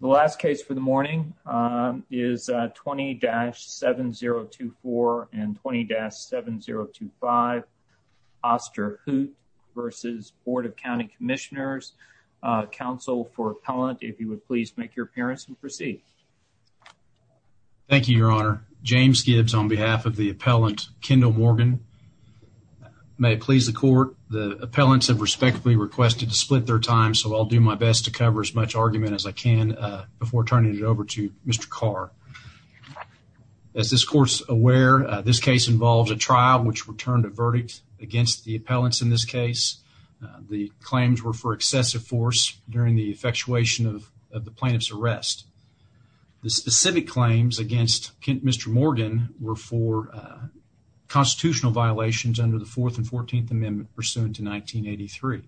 The last case for the morning is 20-7024 and 20-7025. Osterhout v. Board of County Commissioners. Counsel for appellant, if you would please make your appearance and proceed. Thank you, your honor. James Gibbs on behalf of the appellant, Kendall Morgan. May it please the court. The appellants have respectfully requested to split their time, so I'll do my best to cover as much argument as I can before turning it over to Mr. Carr. As this court's aware, this case involves a trial which returned a verdict against the appellants in this case. The claims were for excessive force during the effectuation of the plaintiff's arrest. The specific claims against Mr. Morgan were for constitutional violations under the 4th and 14th pursuant to 1983.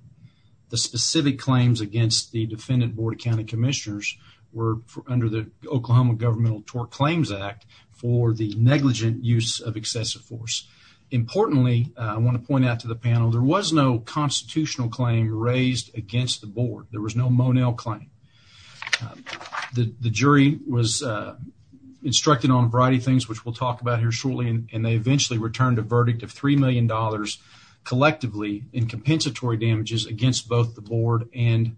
The specific claims against the defendant, Board of County Commissioners, were under the Oklahoma Governmental Tort Claims Act for the negligent use of excessive force. Importantly, I want to point out to the panel, there was no constitutional claim raised against the board. There was no Monell claim. The jury was instructed on a variety of things, which we'll talk about here shortly, and they eventually returned a verdict of $3 million collectively in compensatory damages against both the board and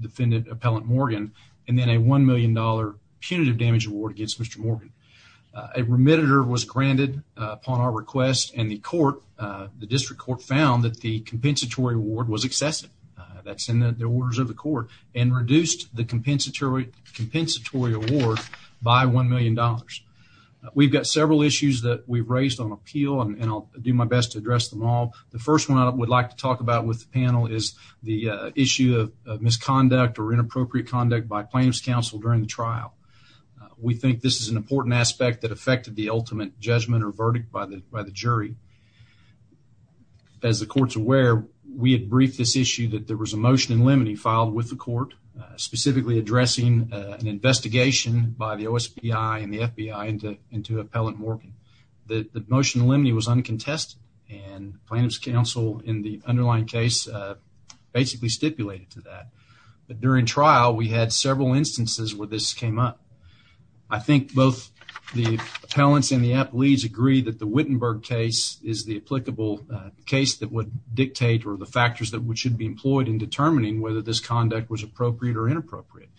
defendant appellant Morgan, and then a $1 million punitive damage award against Mr. Morgan. A remitter was granted upon our request, and the court, the district court, found that the compensatory award was excessive. That's in the orders of the court, and reduced the compensatory award by $1 million. We've got several issues that we've raised on appeal, and I'll do my best to address them all. The first one I would like to talk about with the panel is the issue of misconduct or inappropriate conduct by plaintiff's counsel during the trial. We think this is an important aspect that affected the ultimate judgment or verdict by the jury. As the court's aware, we had briefed this issue that there was a motion in limine filed with the court, specifically addressing an investigation by the OSPI and the FBI into appellant Morgan. The motion in limine was uncontested, and plaintiff's counsel in the underlying case basically stipulated to that. But during trial, we had several instances where this came up. I think both the appellants and the appellees agree that the Wittenberg case is the applicable case that would dictate or the factors that should be employed in determining whether this conduct was appropriate or inappropriate.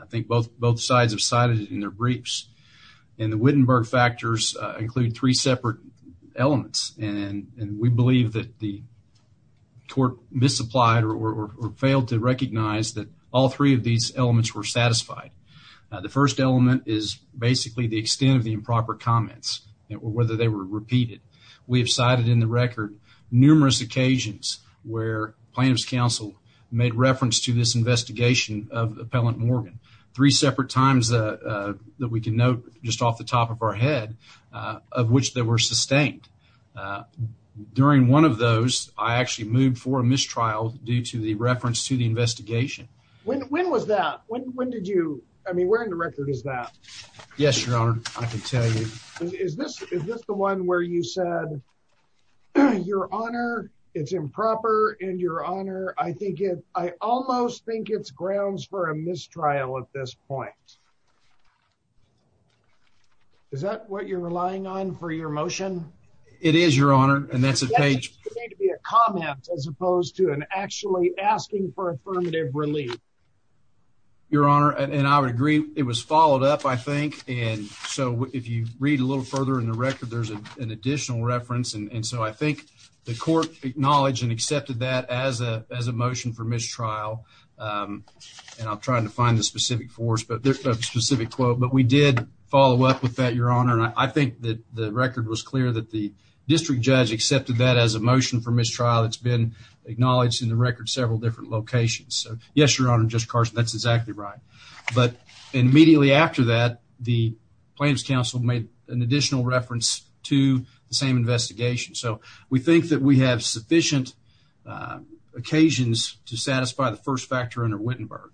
I think both sides have cited it in their briefs. And the Wittenberg factors include three separate elements, and we believe that the court misapplied or failed to recognize that all three of these elements were satisfied. The first element is basically the extent of the improper comments or whether they were repeated. We have cited in the record numerous occasions where plaintiff's made reference to this investigation of appellant Morgan. Three separate times that we can note just off the top of our head of which they were sustained. During one of those, I actually moved for a mistrial due to the reference to the investigation. When was that? When did you, I mean, where in the record is that? Yes, your honor, I can tell you. Is this the one where you said, your honor, it's improper and your honor, I think it, I almost think it's grounds for a mistrial at this point. Is that what you're relying on for your motion? It is your honor, and that's a page to be a comment as opposed to an actually asking for affirmative relief. Your honor, and I would agree it was followed up, I think. And so if you read a little further in the record, there's an additional reference. And so I think the court acknowledged and accepted that as a motion for mistrial. And I'm trying to find the specific force, but there's a specific quote, but we did follow up with that, your honor. And I think that the record was clear that the district judge accepted that as a motion for mistrial. It's been acknowledged in the record several different locations. So yes, your honor, Judge Carson, that's exactly right. But immediately after that, the plaintiff's counsel made an additional reference to the same investigation. So we think that we have sufficient occasions to satisfy the first factor under Wittenberg.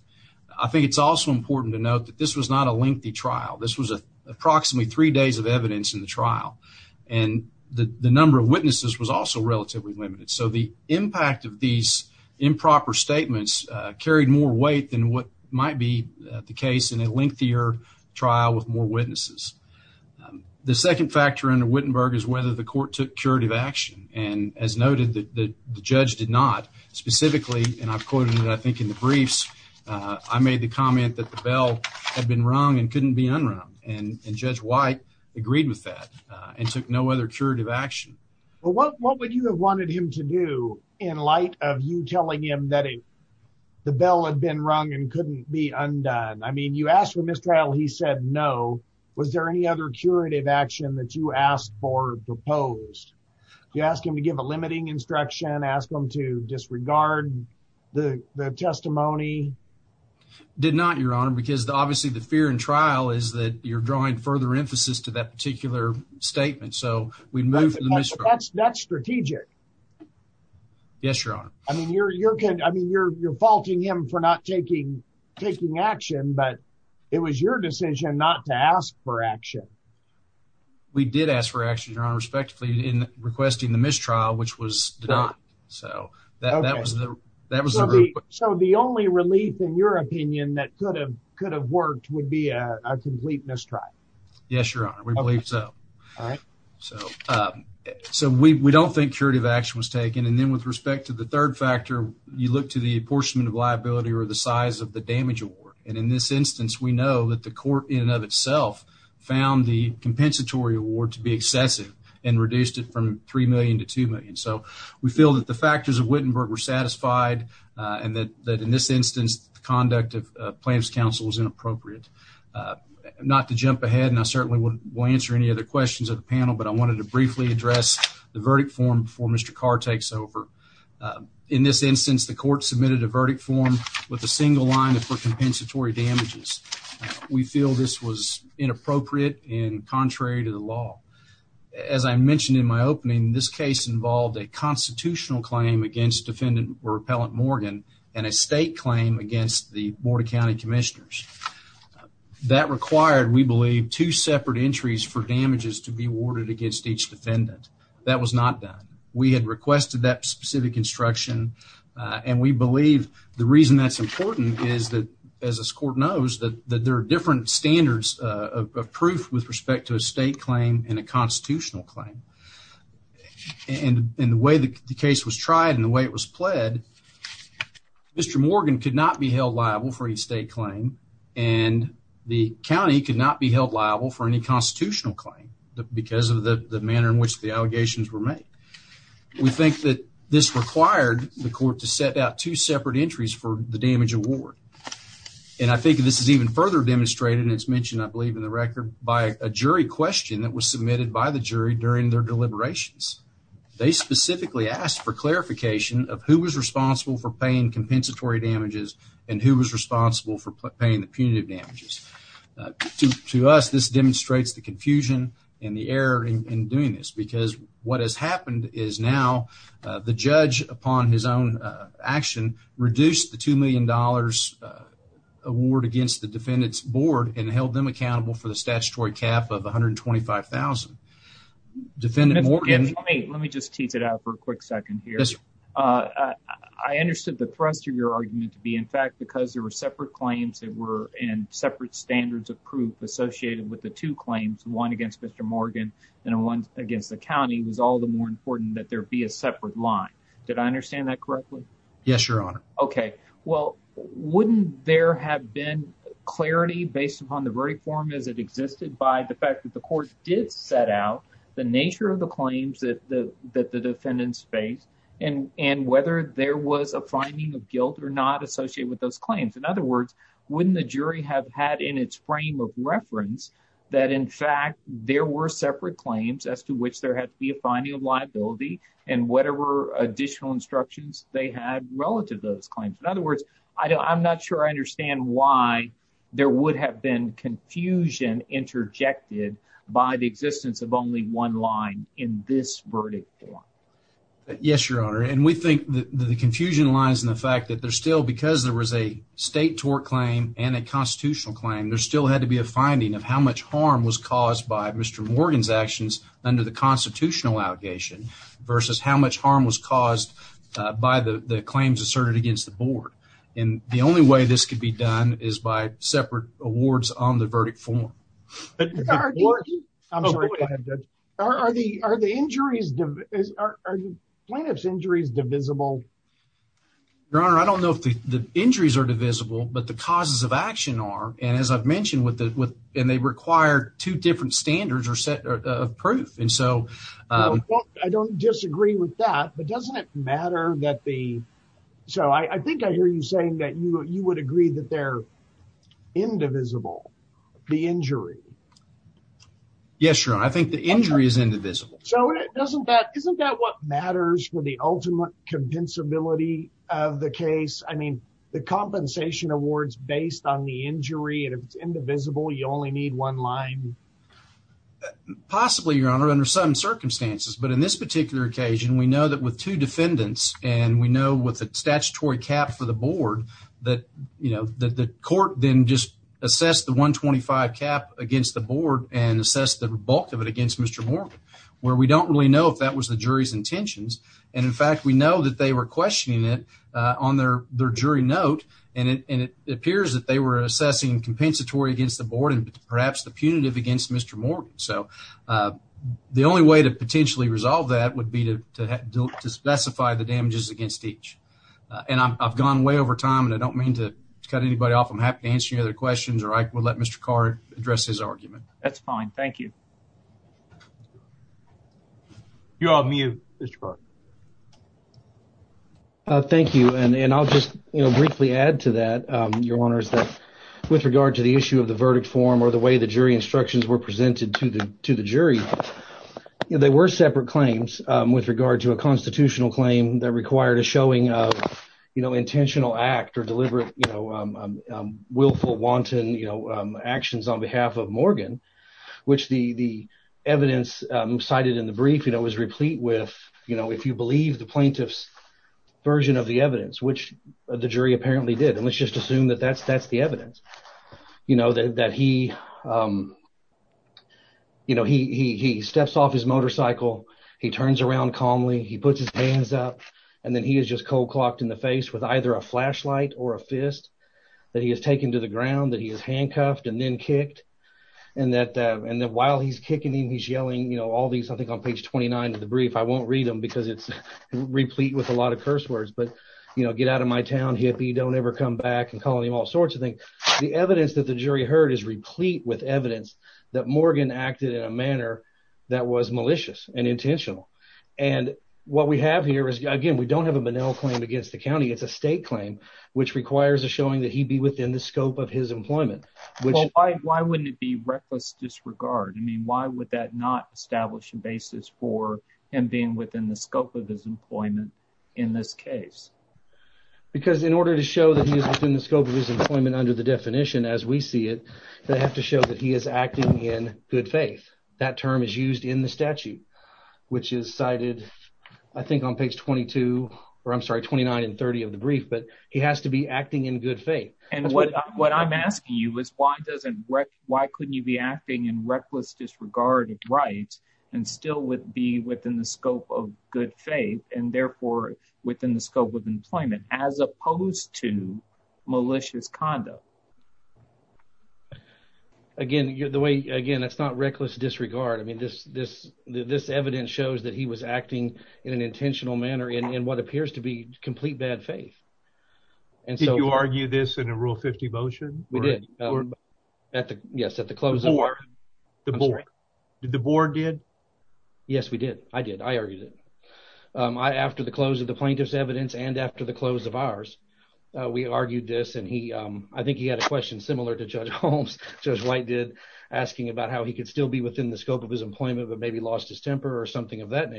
I think it's also important to note that this was not a lengthy trial. This was approximately three days of evidence in the trial. And the number of witnesses was also relatively limited. So the impact of these improper statements carried more weight than what might be the case in a trial with more witnesses. The second factor under Wittenberg is whether the court took curative action. And as noted that the judge did not specifically, and I've quoted it, I think, in the briefs, I made the comment that the bell had been rung and couldn't be unrung. And Judge White agreed with that and took no other curative action. Well, what would you have wanted him to do in light of you telling him that the bell had been rung and couldn't be undone? I mean, you asked for mistrial, he said no. Was there any other curative action that you asked for proposed? You ask him to give a limiting instruction, ask him to disregard the testimony? Did not, Your Honor, because obviously the fear in trial is that you're drawing further emphasis to that particular statement. So we'd move to the mistrial. That's strategic. Yes, Your Honor. I mean, you're faulting him for not taking action, but it was your decision not to ask for action. We did ask for action, Your Honor, respectively in requesting the mistrial, which was denied. So the only relief, in your opinion, that could have worked would be a complete mistrial. Yes, Your Honor, we believe so. So we don't think curative action was taken. And then with respect to the third factor, you look to the apportionment of liability or the size of the damage award. And in this instance, we know that the court in and of itself found the compensatory award to be excessive and reduced it from $3 million to $2 million. So we feel that the factors of Wittenberg were satisfied and that in this instance, the conduct of plaintiff's counsel was inappropriate. Not to jump ahead, and I certainly won't answer any other questions of the panel, but I wanted to briefly address the verdict form before Mr. Carr takes over. In this instance, the court submitted a verdict form with a single line for compensatory damages. We feel this was inappropriate and contrary to the law. As I mentioned in my opening, this case involved a constitutional claim against defendant or appellant Morgan and a state claim against the each defendant. That was not done. We had requested that specific instruction, and we believe the reason that's important is that, as this court knows, that there are different standards of proof with respect to a state claim and a constitutional claim. And the way the case was tried and the way it was pled, Mr. Morgan could not be held liable for any state claim and the county could not be held liable for any constitutional claim because of the manner in which the allegations were made. We think that this required the court to set out two separate entries for the damage award, and I think this is even further demonstrated, and it's mentioned I believe in the record, by a jury question that was submitted by the jury during their deliberations. They specifically asked for clarification of who was responsible for paying compensatory damages and who was responsible for paying the punitive damages. To us, this demonstrates the confusion and the error in doing this because what has happened is now the judge, upon his own action, reduced the $2 million award against the defendant's board and held them accountable for the statutory cap of $125,000. Let me just tease it out for a quick second here. I understood the thrust of your argument to be, in fact, because there were separate claims and separate standards of proof associated with the two claims, one against Mr. Morgan and one against the county, it was all the more important that there be a separate line. Did I understand that correctly? Yes, Your Honor. Okay. Well, wouldn't there have been clarity based upon the very form as it existed by the fact that the court did set out the nature of the claims that the defendants faced and whether there was a wouldn't the jury have had in its frame of reference that, in fact, there were separate claims as to which there had to be a finding of liability and whatever additional instructions they had relative to those claims. In other words, I'm not sure I understand why there would have been confusion interjected by the existence of only one line in this verdict. Yes, Your Honor, and we think that the confusion lies in the fact that there's still, because there was a state tort claim and a constitutional claim, there still had to be a finding of how much harm was caused by Mr. Morgan's actions under the constitutional allegation versus how much harm was caused by the claims asserted against the board. And the only way this could be done is by separate awards on the verdict form. Are the injuries, are plaintiff's injuries divisible? Your Honor, I don't know if the injuries are divisible, but the causes of action are, and as I've mentioned, and they require two different standards of proof. I don't disagree with that, but doesn't it matter that the, so I think I hear you saying that you would agree that they're indivisible, the injury. Yes, Your Honor, I think the injury is indivisible. So isn't that what matters for the ultimate compensability of the case? I mean, the compensation award's based on the injury, and if it's indivisible, you only need one line. Possibly, Your Honor, under some circumstances, but in this particular occasion, we know that with two defendants, and we know with a statutory cap for the board, that the court then just assessed the 125 cap against the board and assessed the bulk of it where we don't really know if that was the jury's intentions, and in fact, we know that they were questioning it on their jury note, and it appears that they were assessing compensatory against the board and perhaps the punitive against Mr. Morgan, so the only way to potentially resolve that would be to specify the damages against each, and I've gone way over time, and I don't mean to cut anybody off. I'm happy to answer your other questions, or I will let Mr. Carr address his questions. You're on mute, Mr. Carr. Thank you, and I'll just briefly add to that, Your Honors, that with regard to the issue of the verdict form or the way the jury instructions were presented to the jury, there were separate claims with regard to a constitutional claim that required a showing of intentional act or deliberate willful, wanton actions on behalf of the plaintiff. The evidence cited in the brief was replete with, if you believe, the plaintiff's version of the evidence, which the jury apparently did, and let's just assume that that's the evidence, that he steps off his motorcycle, he turns around calmly, he puts his hands up, and then he is just cold-clocked in the face with either a flashlight or a fist that he has taken to ground that he has handcuffed and then kicked, and that while he's kicking him, he's yelling, you know, all these, I think, on page 29 of the brief. I won't read them because it's replete with a lot of curse words, but, you know, get out of my town, hippie, don't ever come back, and calling him all sorts of things. The evidence that the jury heard is replete with evidence that Morgan acted in a manner that was malicious and intentional, and what we have here is, again, we don't have a Bonnell claim against the county. It's a state claim which requires a showing that he be within the scope of his employment. Well, why wouldn't it be reckless disregard? I mean, why would that not establish a basis for him being within the scope of his employment in this case? Because in order to show that he is within the scope of his employment under the definition as we see it, they have to show that he is acting in good faith. That term is used in the statute, which is cited, I think, on page 22, or I'm sorry, 29 and 30 of the brief, but he has to be acting in good faith. And what I'm asking you is why doesn't, why couldn't you be acting in reckless disregard of rights and still be within the scope of good faith, and therefore within the scope of employment, as opposed to malicious conduct? Again, the way, again, it's not reckless disregard. I mean, this evidence shows that he was acting in an intentional manner in what you argue this in a rule 50 motion? We did. Yes, at the closing. The board did? Yes, we did. I did. I argued it. I, after the close of the plaintiff's evidence and after the close of ours, we argued this and he, I think he had a question similar to Judge Holmes, Judge White did, asking about how he could still be within the scope of his employment, but maybe lost his temper or something of that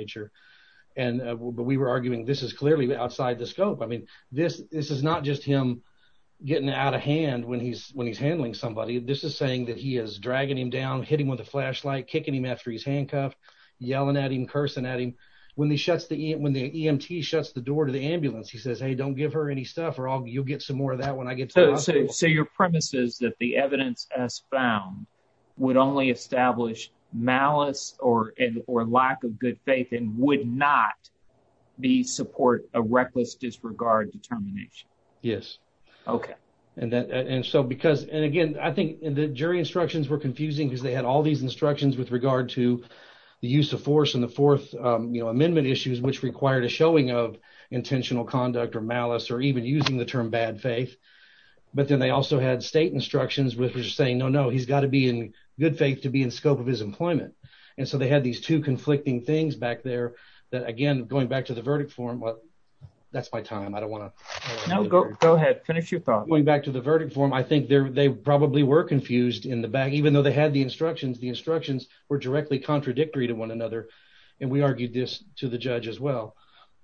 getting out of hand when he's, when he's handling somebody. This is saying that he is dragging him down, hitting with a flashlight, kicking him after he's handcuffed, yelling at him, cursing at him. When he shuts the, when the EMT shuts the door to the ambulance, he says, hey, don't give her any stuff or you'll get some more of that when I get to the hospital. So your premise is that the evidence as found would only establish malice or lack of good faith and would not be support a reckless disregard determination. Yes. Okay. And that, and so, because, and again, I think the jury instructions were confusing because they had all these instructions with regard to the use of force and the fourth, um, you know, amendment issues, which required a showing of intentional conduct or malice, or even using the term bad faith. But then they also had state instructions with, which is saying, no, no, he's got to be in good faith to be in scope of his employment. And so they had these two conflicting things back there that again, going back to the that's my time. I don't want to go ahead. Finish your thought going back to the verdict form. I think there, they probably were confused in the back, even though they had the instructions, the instructions were directly contradictory to one another. And we argued this to the judge as well.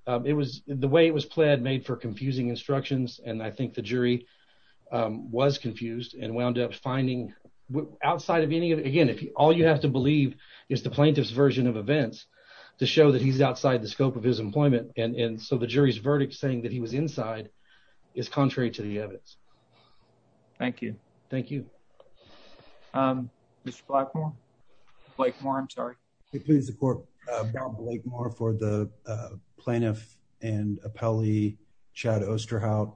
Um, it was the way it was pled made for confusing instructions. And I think the jury, um, was confused and wound up finding outside of any of it. Again, if all you have to believe is the plaintiff's version of events to show that he's outside the scope of his employment. And, and so the jury's verdict saying that he was inside is contrary to the evidence. Thank you. Thank you. Um, Mr. Blackmore, Blake more. I'm sorry. He pleads the court for the plaintiff and appellee Chad Osterhout.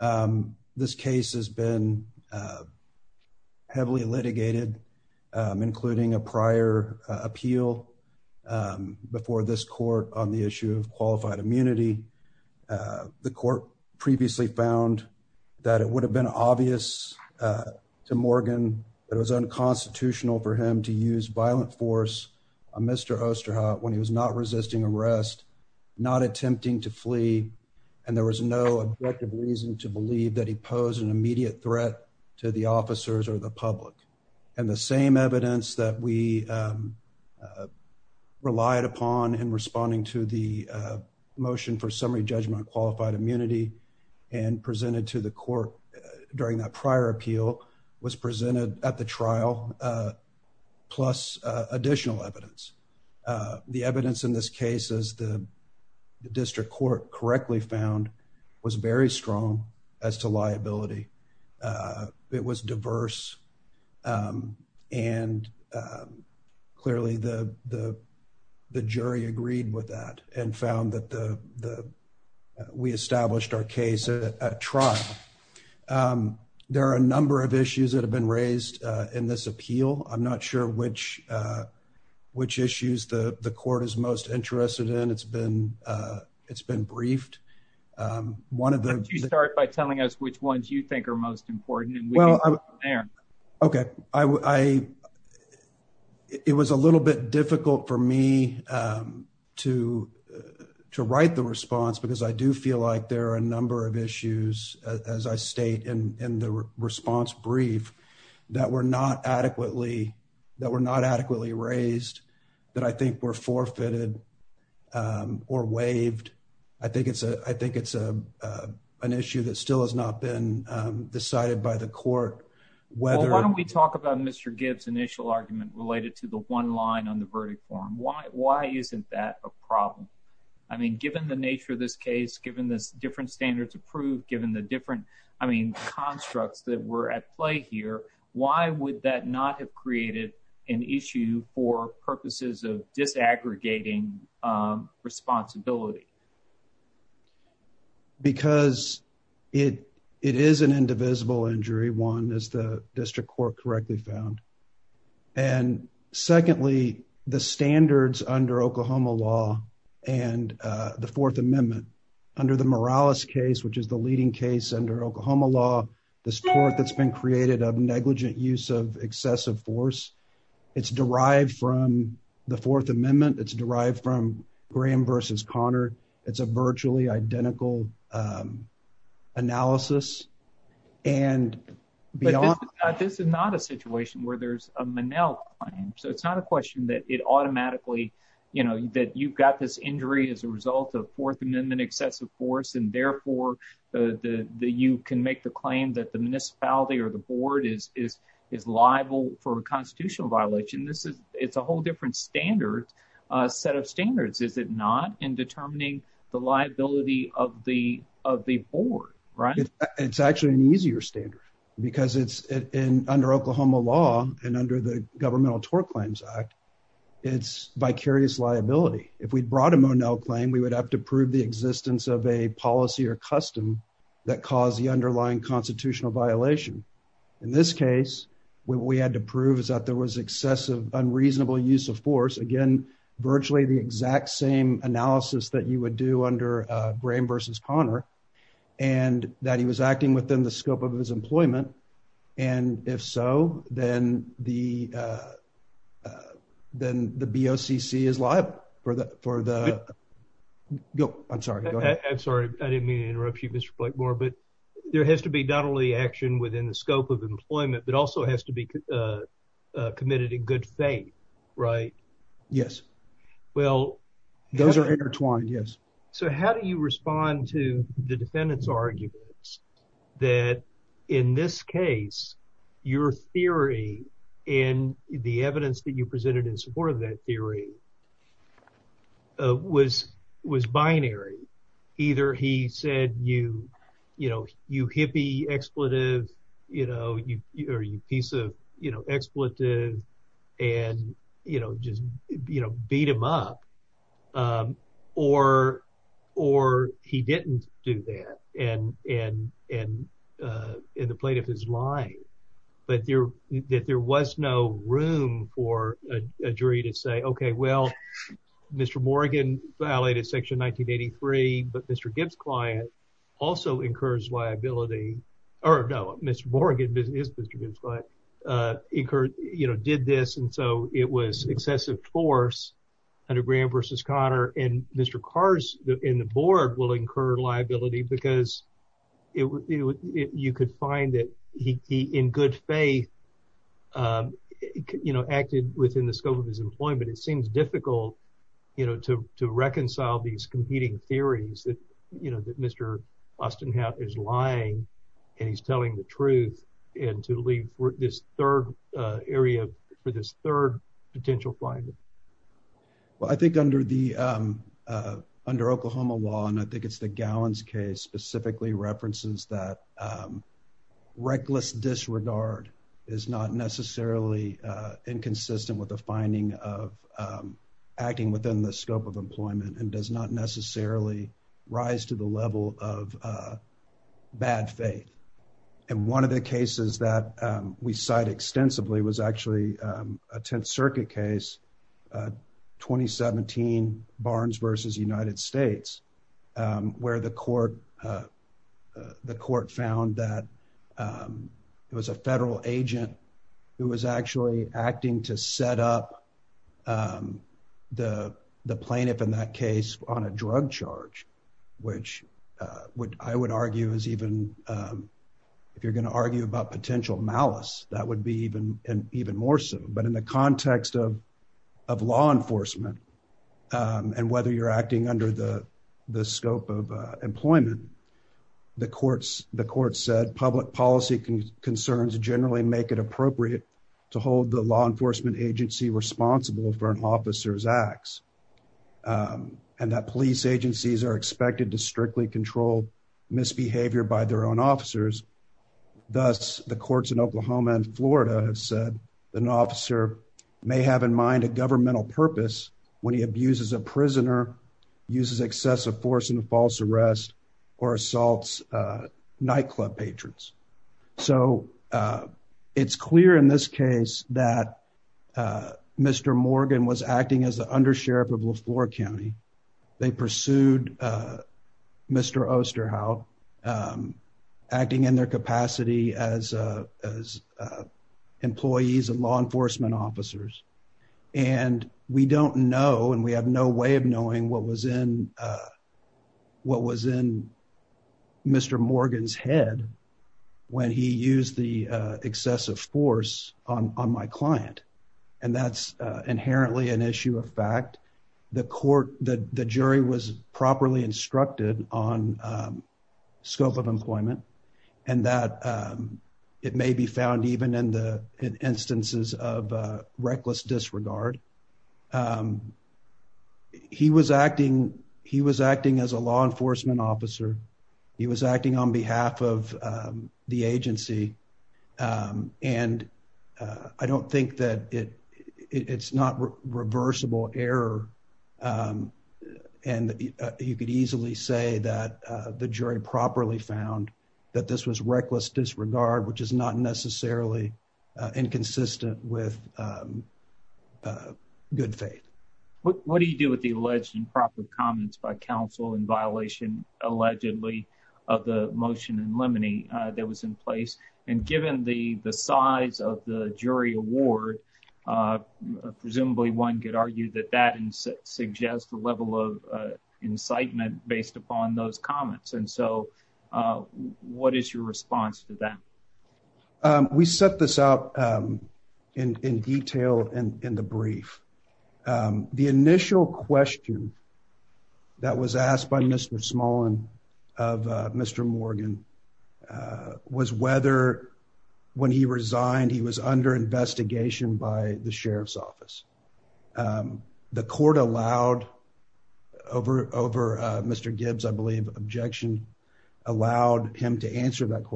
Um, this case has been, uh, heavily litigated, um, including a prior appeal, um, before this court on the issue of qualified immunity. Uh, the court previously found that it would have been obvious, uh, to Morgan that it was unconstitutional for him to use violent force on Mr. Osterhout when he was not resisting arrest, not attempting to flee. And there was no objective reason to believe that he And the same evidence that we, um, uh, relied upon in responding to the, uh, motion for summary judgment qualified immunity and presented to the court during that prior appeal was presented at the trial. Uh, plus additional evidence. Uh, the evidence in this case is the district court correctly found was very strong as to liability. Uh, it was diverse. Um, and, um, clearly the jury agreed with that and found that the we established our case at trial. Um, there are a number of issues that have been raised in this appeal. I'm not sure which, uh, which issues the it's been briefed. Um, one of the start by telling us which ones you think are most important. Okay. I, it was a little bit difficult for me, um, to, uh, to write the response because I do feel like there are a number of issues as I state in the response brief that were not adequately, that were not adequately raised that I think were forfeited or waived. I think it's a I think it's a, uh, an issue that still has not been decided by the court. Why don't we talk about Mr Gibbs initial argument related to the one line on the verdict form? Why? Why isn't that a problem? I mean, given the nature of this case, given this different standards approved, given the different, I mean, constructs that were at play here, why would that not have created an issue for purposes of disaggregating, um, responsibility because it, it is an indivisible injury. One is the district court correctly found. And secondly, the standards under Oklahoma law and, uh, the fourth amendment under the Morales case, which is the leading case under Oklahoma law, the support that's been created of negligent use of excessive force. It's derived from the fourth amendment. It's derived from Graham versus Connor. It's a virtually identical, um, analysis and beyond. But this is not a situation where there's a Manel claim. So it's not a question that it automatically, you know, that you've got this injury as a result of fourth amendment excessive force. And therefore, uh, the, the, you can make the claim that the municipality or the board is, is, is liable for a constitutional violation. This is, it's a whole different standard, a set of standards. Is it not in determining the liability of the, of the board, right? It's actually an easier standard because it's in, under Oklahoma law and under the governmental tort claims act, it's vicarious liability. If we'd brought a Monell claim, we would have to prove the existence of a policy or custom that caused the underlying constitutional violation. In this case, when we had to prove is that there was excessive, unreasonable use of force again, virtually the exact same analysis that you would do under, uh, Graham versus Connor and that he was acting within the scope of his employment. And if so, then the, uh, uh, then the BOCC is live for the, for the go. I'm sorry. I'm sorry. I didn't mean to interrupt you, Mr. Blakemore, but there has to be not only action within the scope of employment, but also has to be, uh, uh, committed in good faith, right? Yes. Well, those are intertwined. So how do you respond to the defendant's arguments that in this case, your theory in the evidence that you presented in support of that theory was, was binary. Either he said, you, you know, you hippie expletive, you know, you, or, or he didn't do that. And, and, and, uh, in the plaintiff is lying, but there, that there was no room for a jury to say, okay, well, Mr. Morgan violated section 1983, but Mr. Gibbs client also incurs liability or no, Mr. Morgan is Mr. Gibbs, but, uh, incurred, you know, did this. And so it was excessive force under Graham versus Connor and Mr. Cars in the board will incur liability because it w it, you could find that he, he, in good faith, um, you know, acted within the scope of his employment. It seems difficult, you know, to, to reconcile these competing theories that, you know, that Mr. Austen is lying and he's telling the truth and to leave for this third, uh, area for this third potential finding. Well, I think under the, um, uh, under Oklahoma law, and I think it's the gallons case specifically references that, um, reckless disregard is not necessarily, uh, inconsistent with the finding of, um, acting within the scope of employment and does not bad faith. And one of the cases that, um, we cite extensively was actually, um, a 10th circuit case, uh, 2017 Barnes versus United States, um, where the court, uh, uh, the court found that, um, it was a federal agent who was actually acting to set up, um, the plaintiff in that case on a drug charge, which, uh, what I would argue is even, um, if you're going to argue about potential malice, that would be even, even more so. But in the context of, of law enforcement, um, and whether you're acting under the, the scope of, uh, employment, the courts, the court said public policy concerns generally make it appropriate to hold the law enforcement agency responsible for an officer's acts, um, and that police agencies are expected to strictly control misbehavior by their own officers. Thus, the courts in Oklahoma and Florida have said that an officer may have in mind a governmental purpose when he abuses a prisoner, uses excessive force in a false arrest or assaults, uh, nightclub patrons. So, uh, it's clear in this case that Mr. Morgan was acting as the undersheriff of LeFlore County. They pursued, uh, Mr. Osterhout acting in their capacity as, uh, as, uh, employees of law enforcement officers. And we don't know, and we have no way of knowing what was in, uh, what was in Mr. Morgan's head when he used the, uh, excessive force on, on my client. And that's, uh, inherently an issue of fact. The court, the jury was properly instructed on, um, scope of employment and that, um, it may be found even in the instances of, uh, reckless disregard. Um, he was acting, he was acting as law enforcement officer. He was acting on behalf of, um, the agency. Um, and, uh, I don't think that it, it's not reversible error. Um, and, uh, you could easily say that, uh, the jury properly found that this was reckless disregard, which is not necessarily inconsistent with, um, uh, good faith. What do you do with the alleged improper comments by counsel in violation, allegedly, of the motion in limine that was in place? And given the, the size of the jury award, uh, presumably one could argue that that suggests the level of, uh, incitement based upon those comments. And so, uh, what is your response to that? Um, we set this out, um, in detail and in the brief, um, the initial question that was asked by Mr Small and of Mr Morgan, uh, was whether when he resigned, he was under investigation by the sheriff's office. Um, the court allowed over over Mr Gibbs. I believe objection allowed him to answer that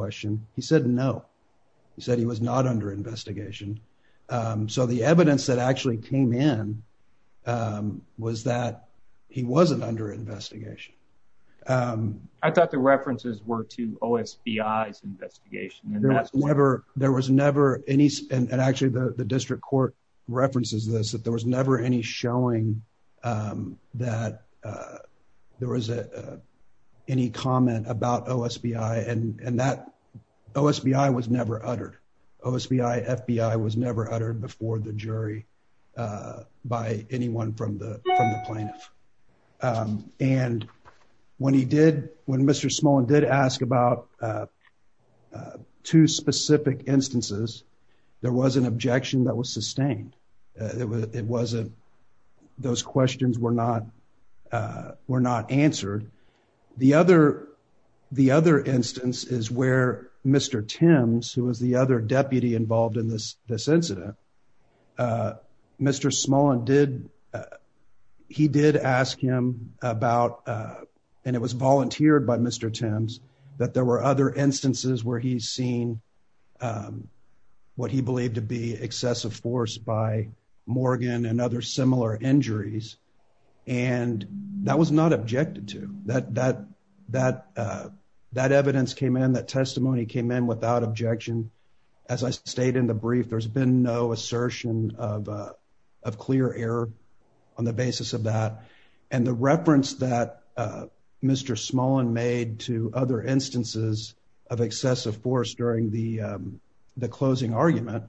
Um, so the evidence that actually came in, um, was that he wasn't under investigation. Um, I thought the references were to O. S. B. I. S. Investigation and there was never, there was never any. And actually the district court references this, that there was never any Um, that, uh, there was a, uh, any comment about O. S. B. I. And that O. S. B. I. Was never uttered O. S. B. I. F. B. I. Was never uttered before the jury, uh, by anyone from the plaintiff. Um, and when he did, when Mr Small and did ask about, uh, uh, two specific instances, there was an objection that was sustained. It wasn't, those questions were not, uh, were not answered. The other, the other instance is where Mr Tim's, who was the other deputy involved in this, this incident, uh, Mr Small and did, uh, he did ask him about, uh, and it was what he believed to be excessive force by Morgan and other similar injuries. And that was not objected to that, that, that, uh, that evidence came in, that testimony came in without objection. As I stayed in the brief, there's been no assertion of, uh, of clear error on the basis of that. And the reference that, uh, Mr Small and made to other instances of excessive force during the, um, the closing argument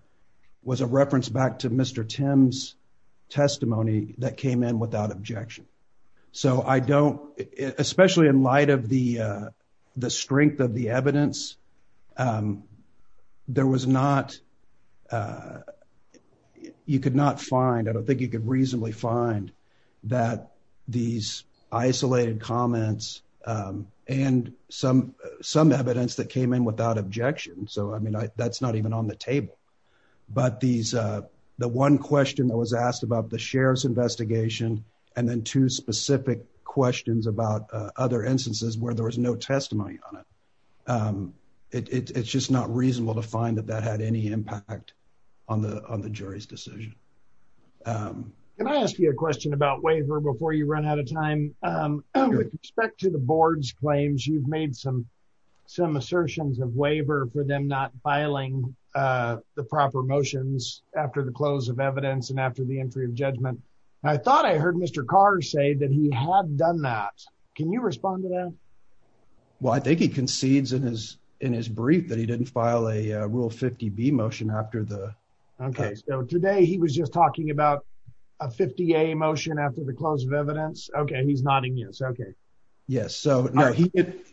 was a reference back to Mr Tim's testimony that came in without objection. So I don't, especially in light of the, uh, the strength of the evidence, um, there was not, uh, you could not find, I don't think you could reasonably find that these isolated comments, um, and some, some evidence that came in without objection. So, I mean, that's not even on the table, but these, uh, the one question that was asked about the sheriff's investigation and then two specific questions about, uh, other instances where there was no testimony on it. Um, it's just not reasonable to find that that had any impact on the, on the jury's decision. Um, can I ask you a Um, according to the board's claims, you've made some, some assertions of waiver for them not filing, uh, the proper motions after the close of evidence and after the entry of judgment. I thought I heard Mr Carr say that he had done that. Can you respond to that? Well, I think he So no, he,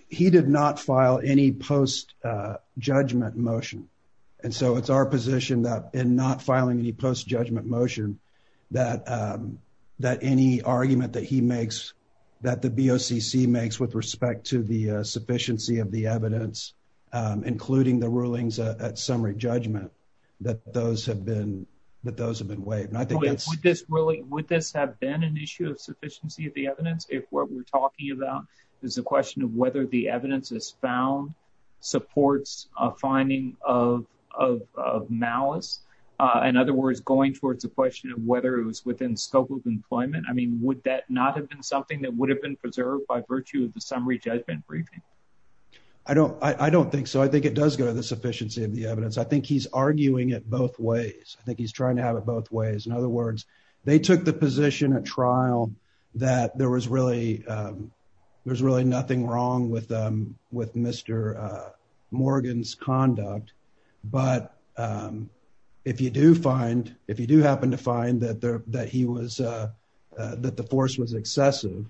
he did not file any post, uh, judgment motion. And so it's our position that in not filing any post judgment motion that, um, that any argument that he makes that the BOCC makes with respect to the, uh, sufficiency of the evidence, um, including the rulings at summary judgment, that those have been, that those have been waived. And I think this really, would this is a question of whether the evidence is found supports a finding of, of, of malice. Uh, in other words, going towards the question of whether it was within scope of employment. I mean, would that not have been something that would have been preserved by virtue of the summary judgment briefing? I don't, I don't think so. I think it does go to the sufficiency of the evidence. I think he's arguing it both ways. I think he's trying to have it both ways. In other nothing wrong with, um, with Mr, uh, Morgan's conduct, but, um, if you do find, if you do happen to find that there, that he was, uh, uh, that the force was excessive,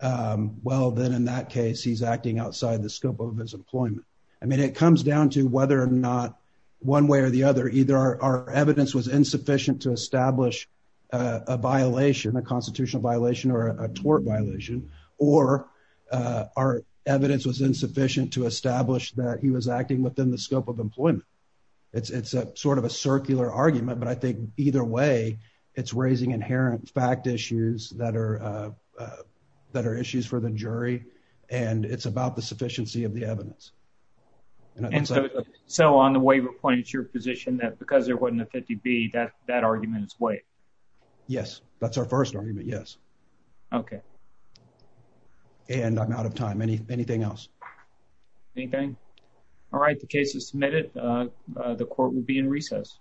um, well, then in that case, he's acting outside the scope of his employment. I mean, it comes down to whether or not one way or the other, either our evidence was insufficient to establish a violation, a constitutional violation or a tort violation, or, uh, our evidence was insufficient to establish that he was acting within the scope of employment. It's, it's a sort of a circular argument, but I think either way it's raising inherent fact issues that are, uh, uh, that are issues for the jury. And it's about the sufficiency of the evidence. And so on the waiver point, it's your position that because there wasn't a 50 B that, that argument is way. Yes, that's our first argument. Yes. Okay. And I'm out of time. Anything else? Anything? All right. The case is submitted. Uh, the court will be in recess.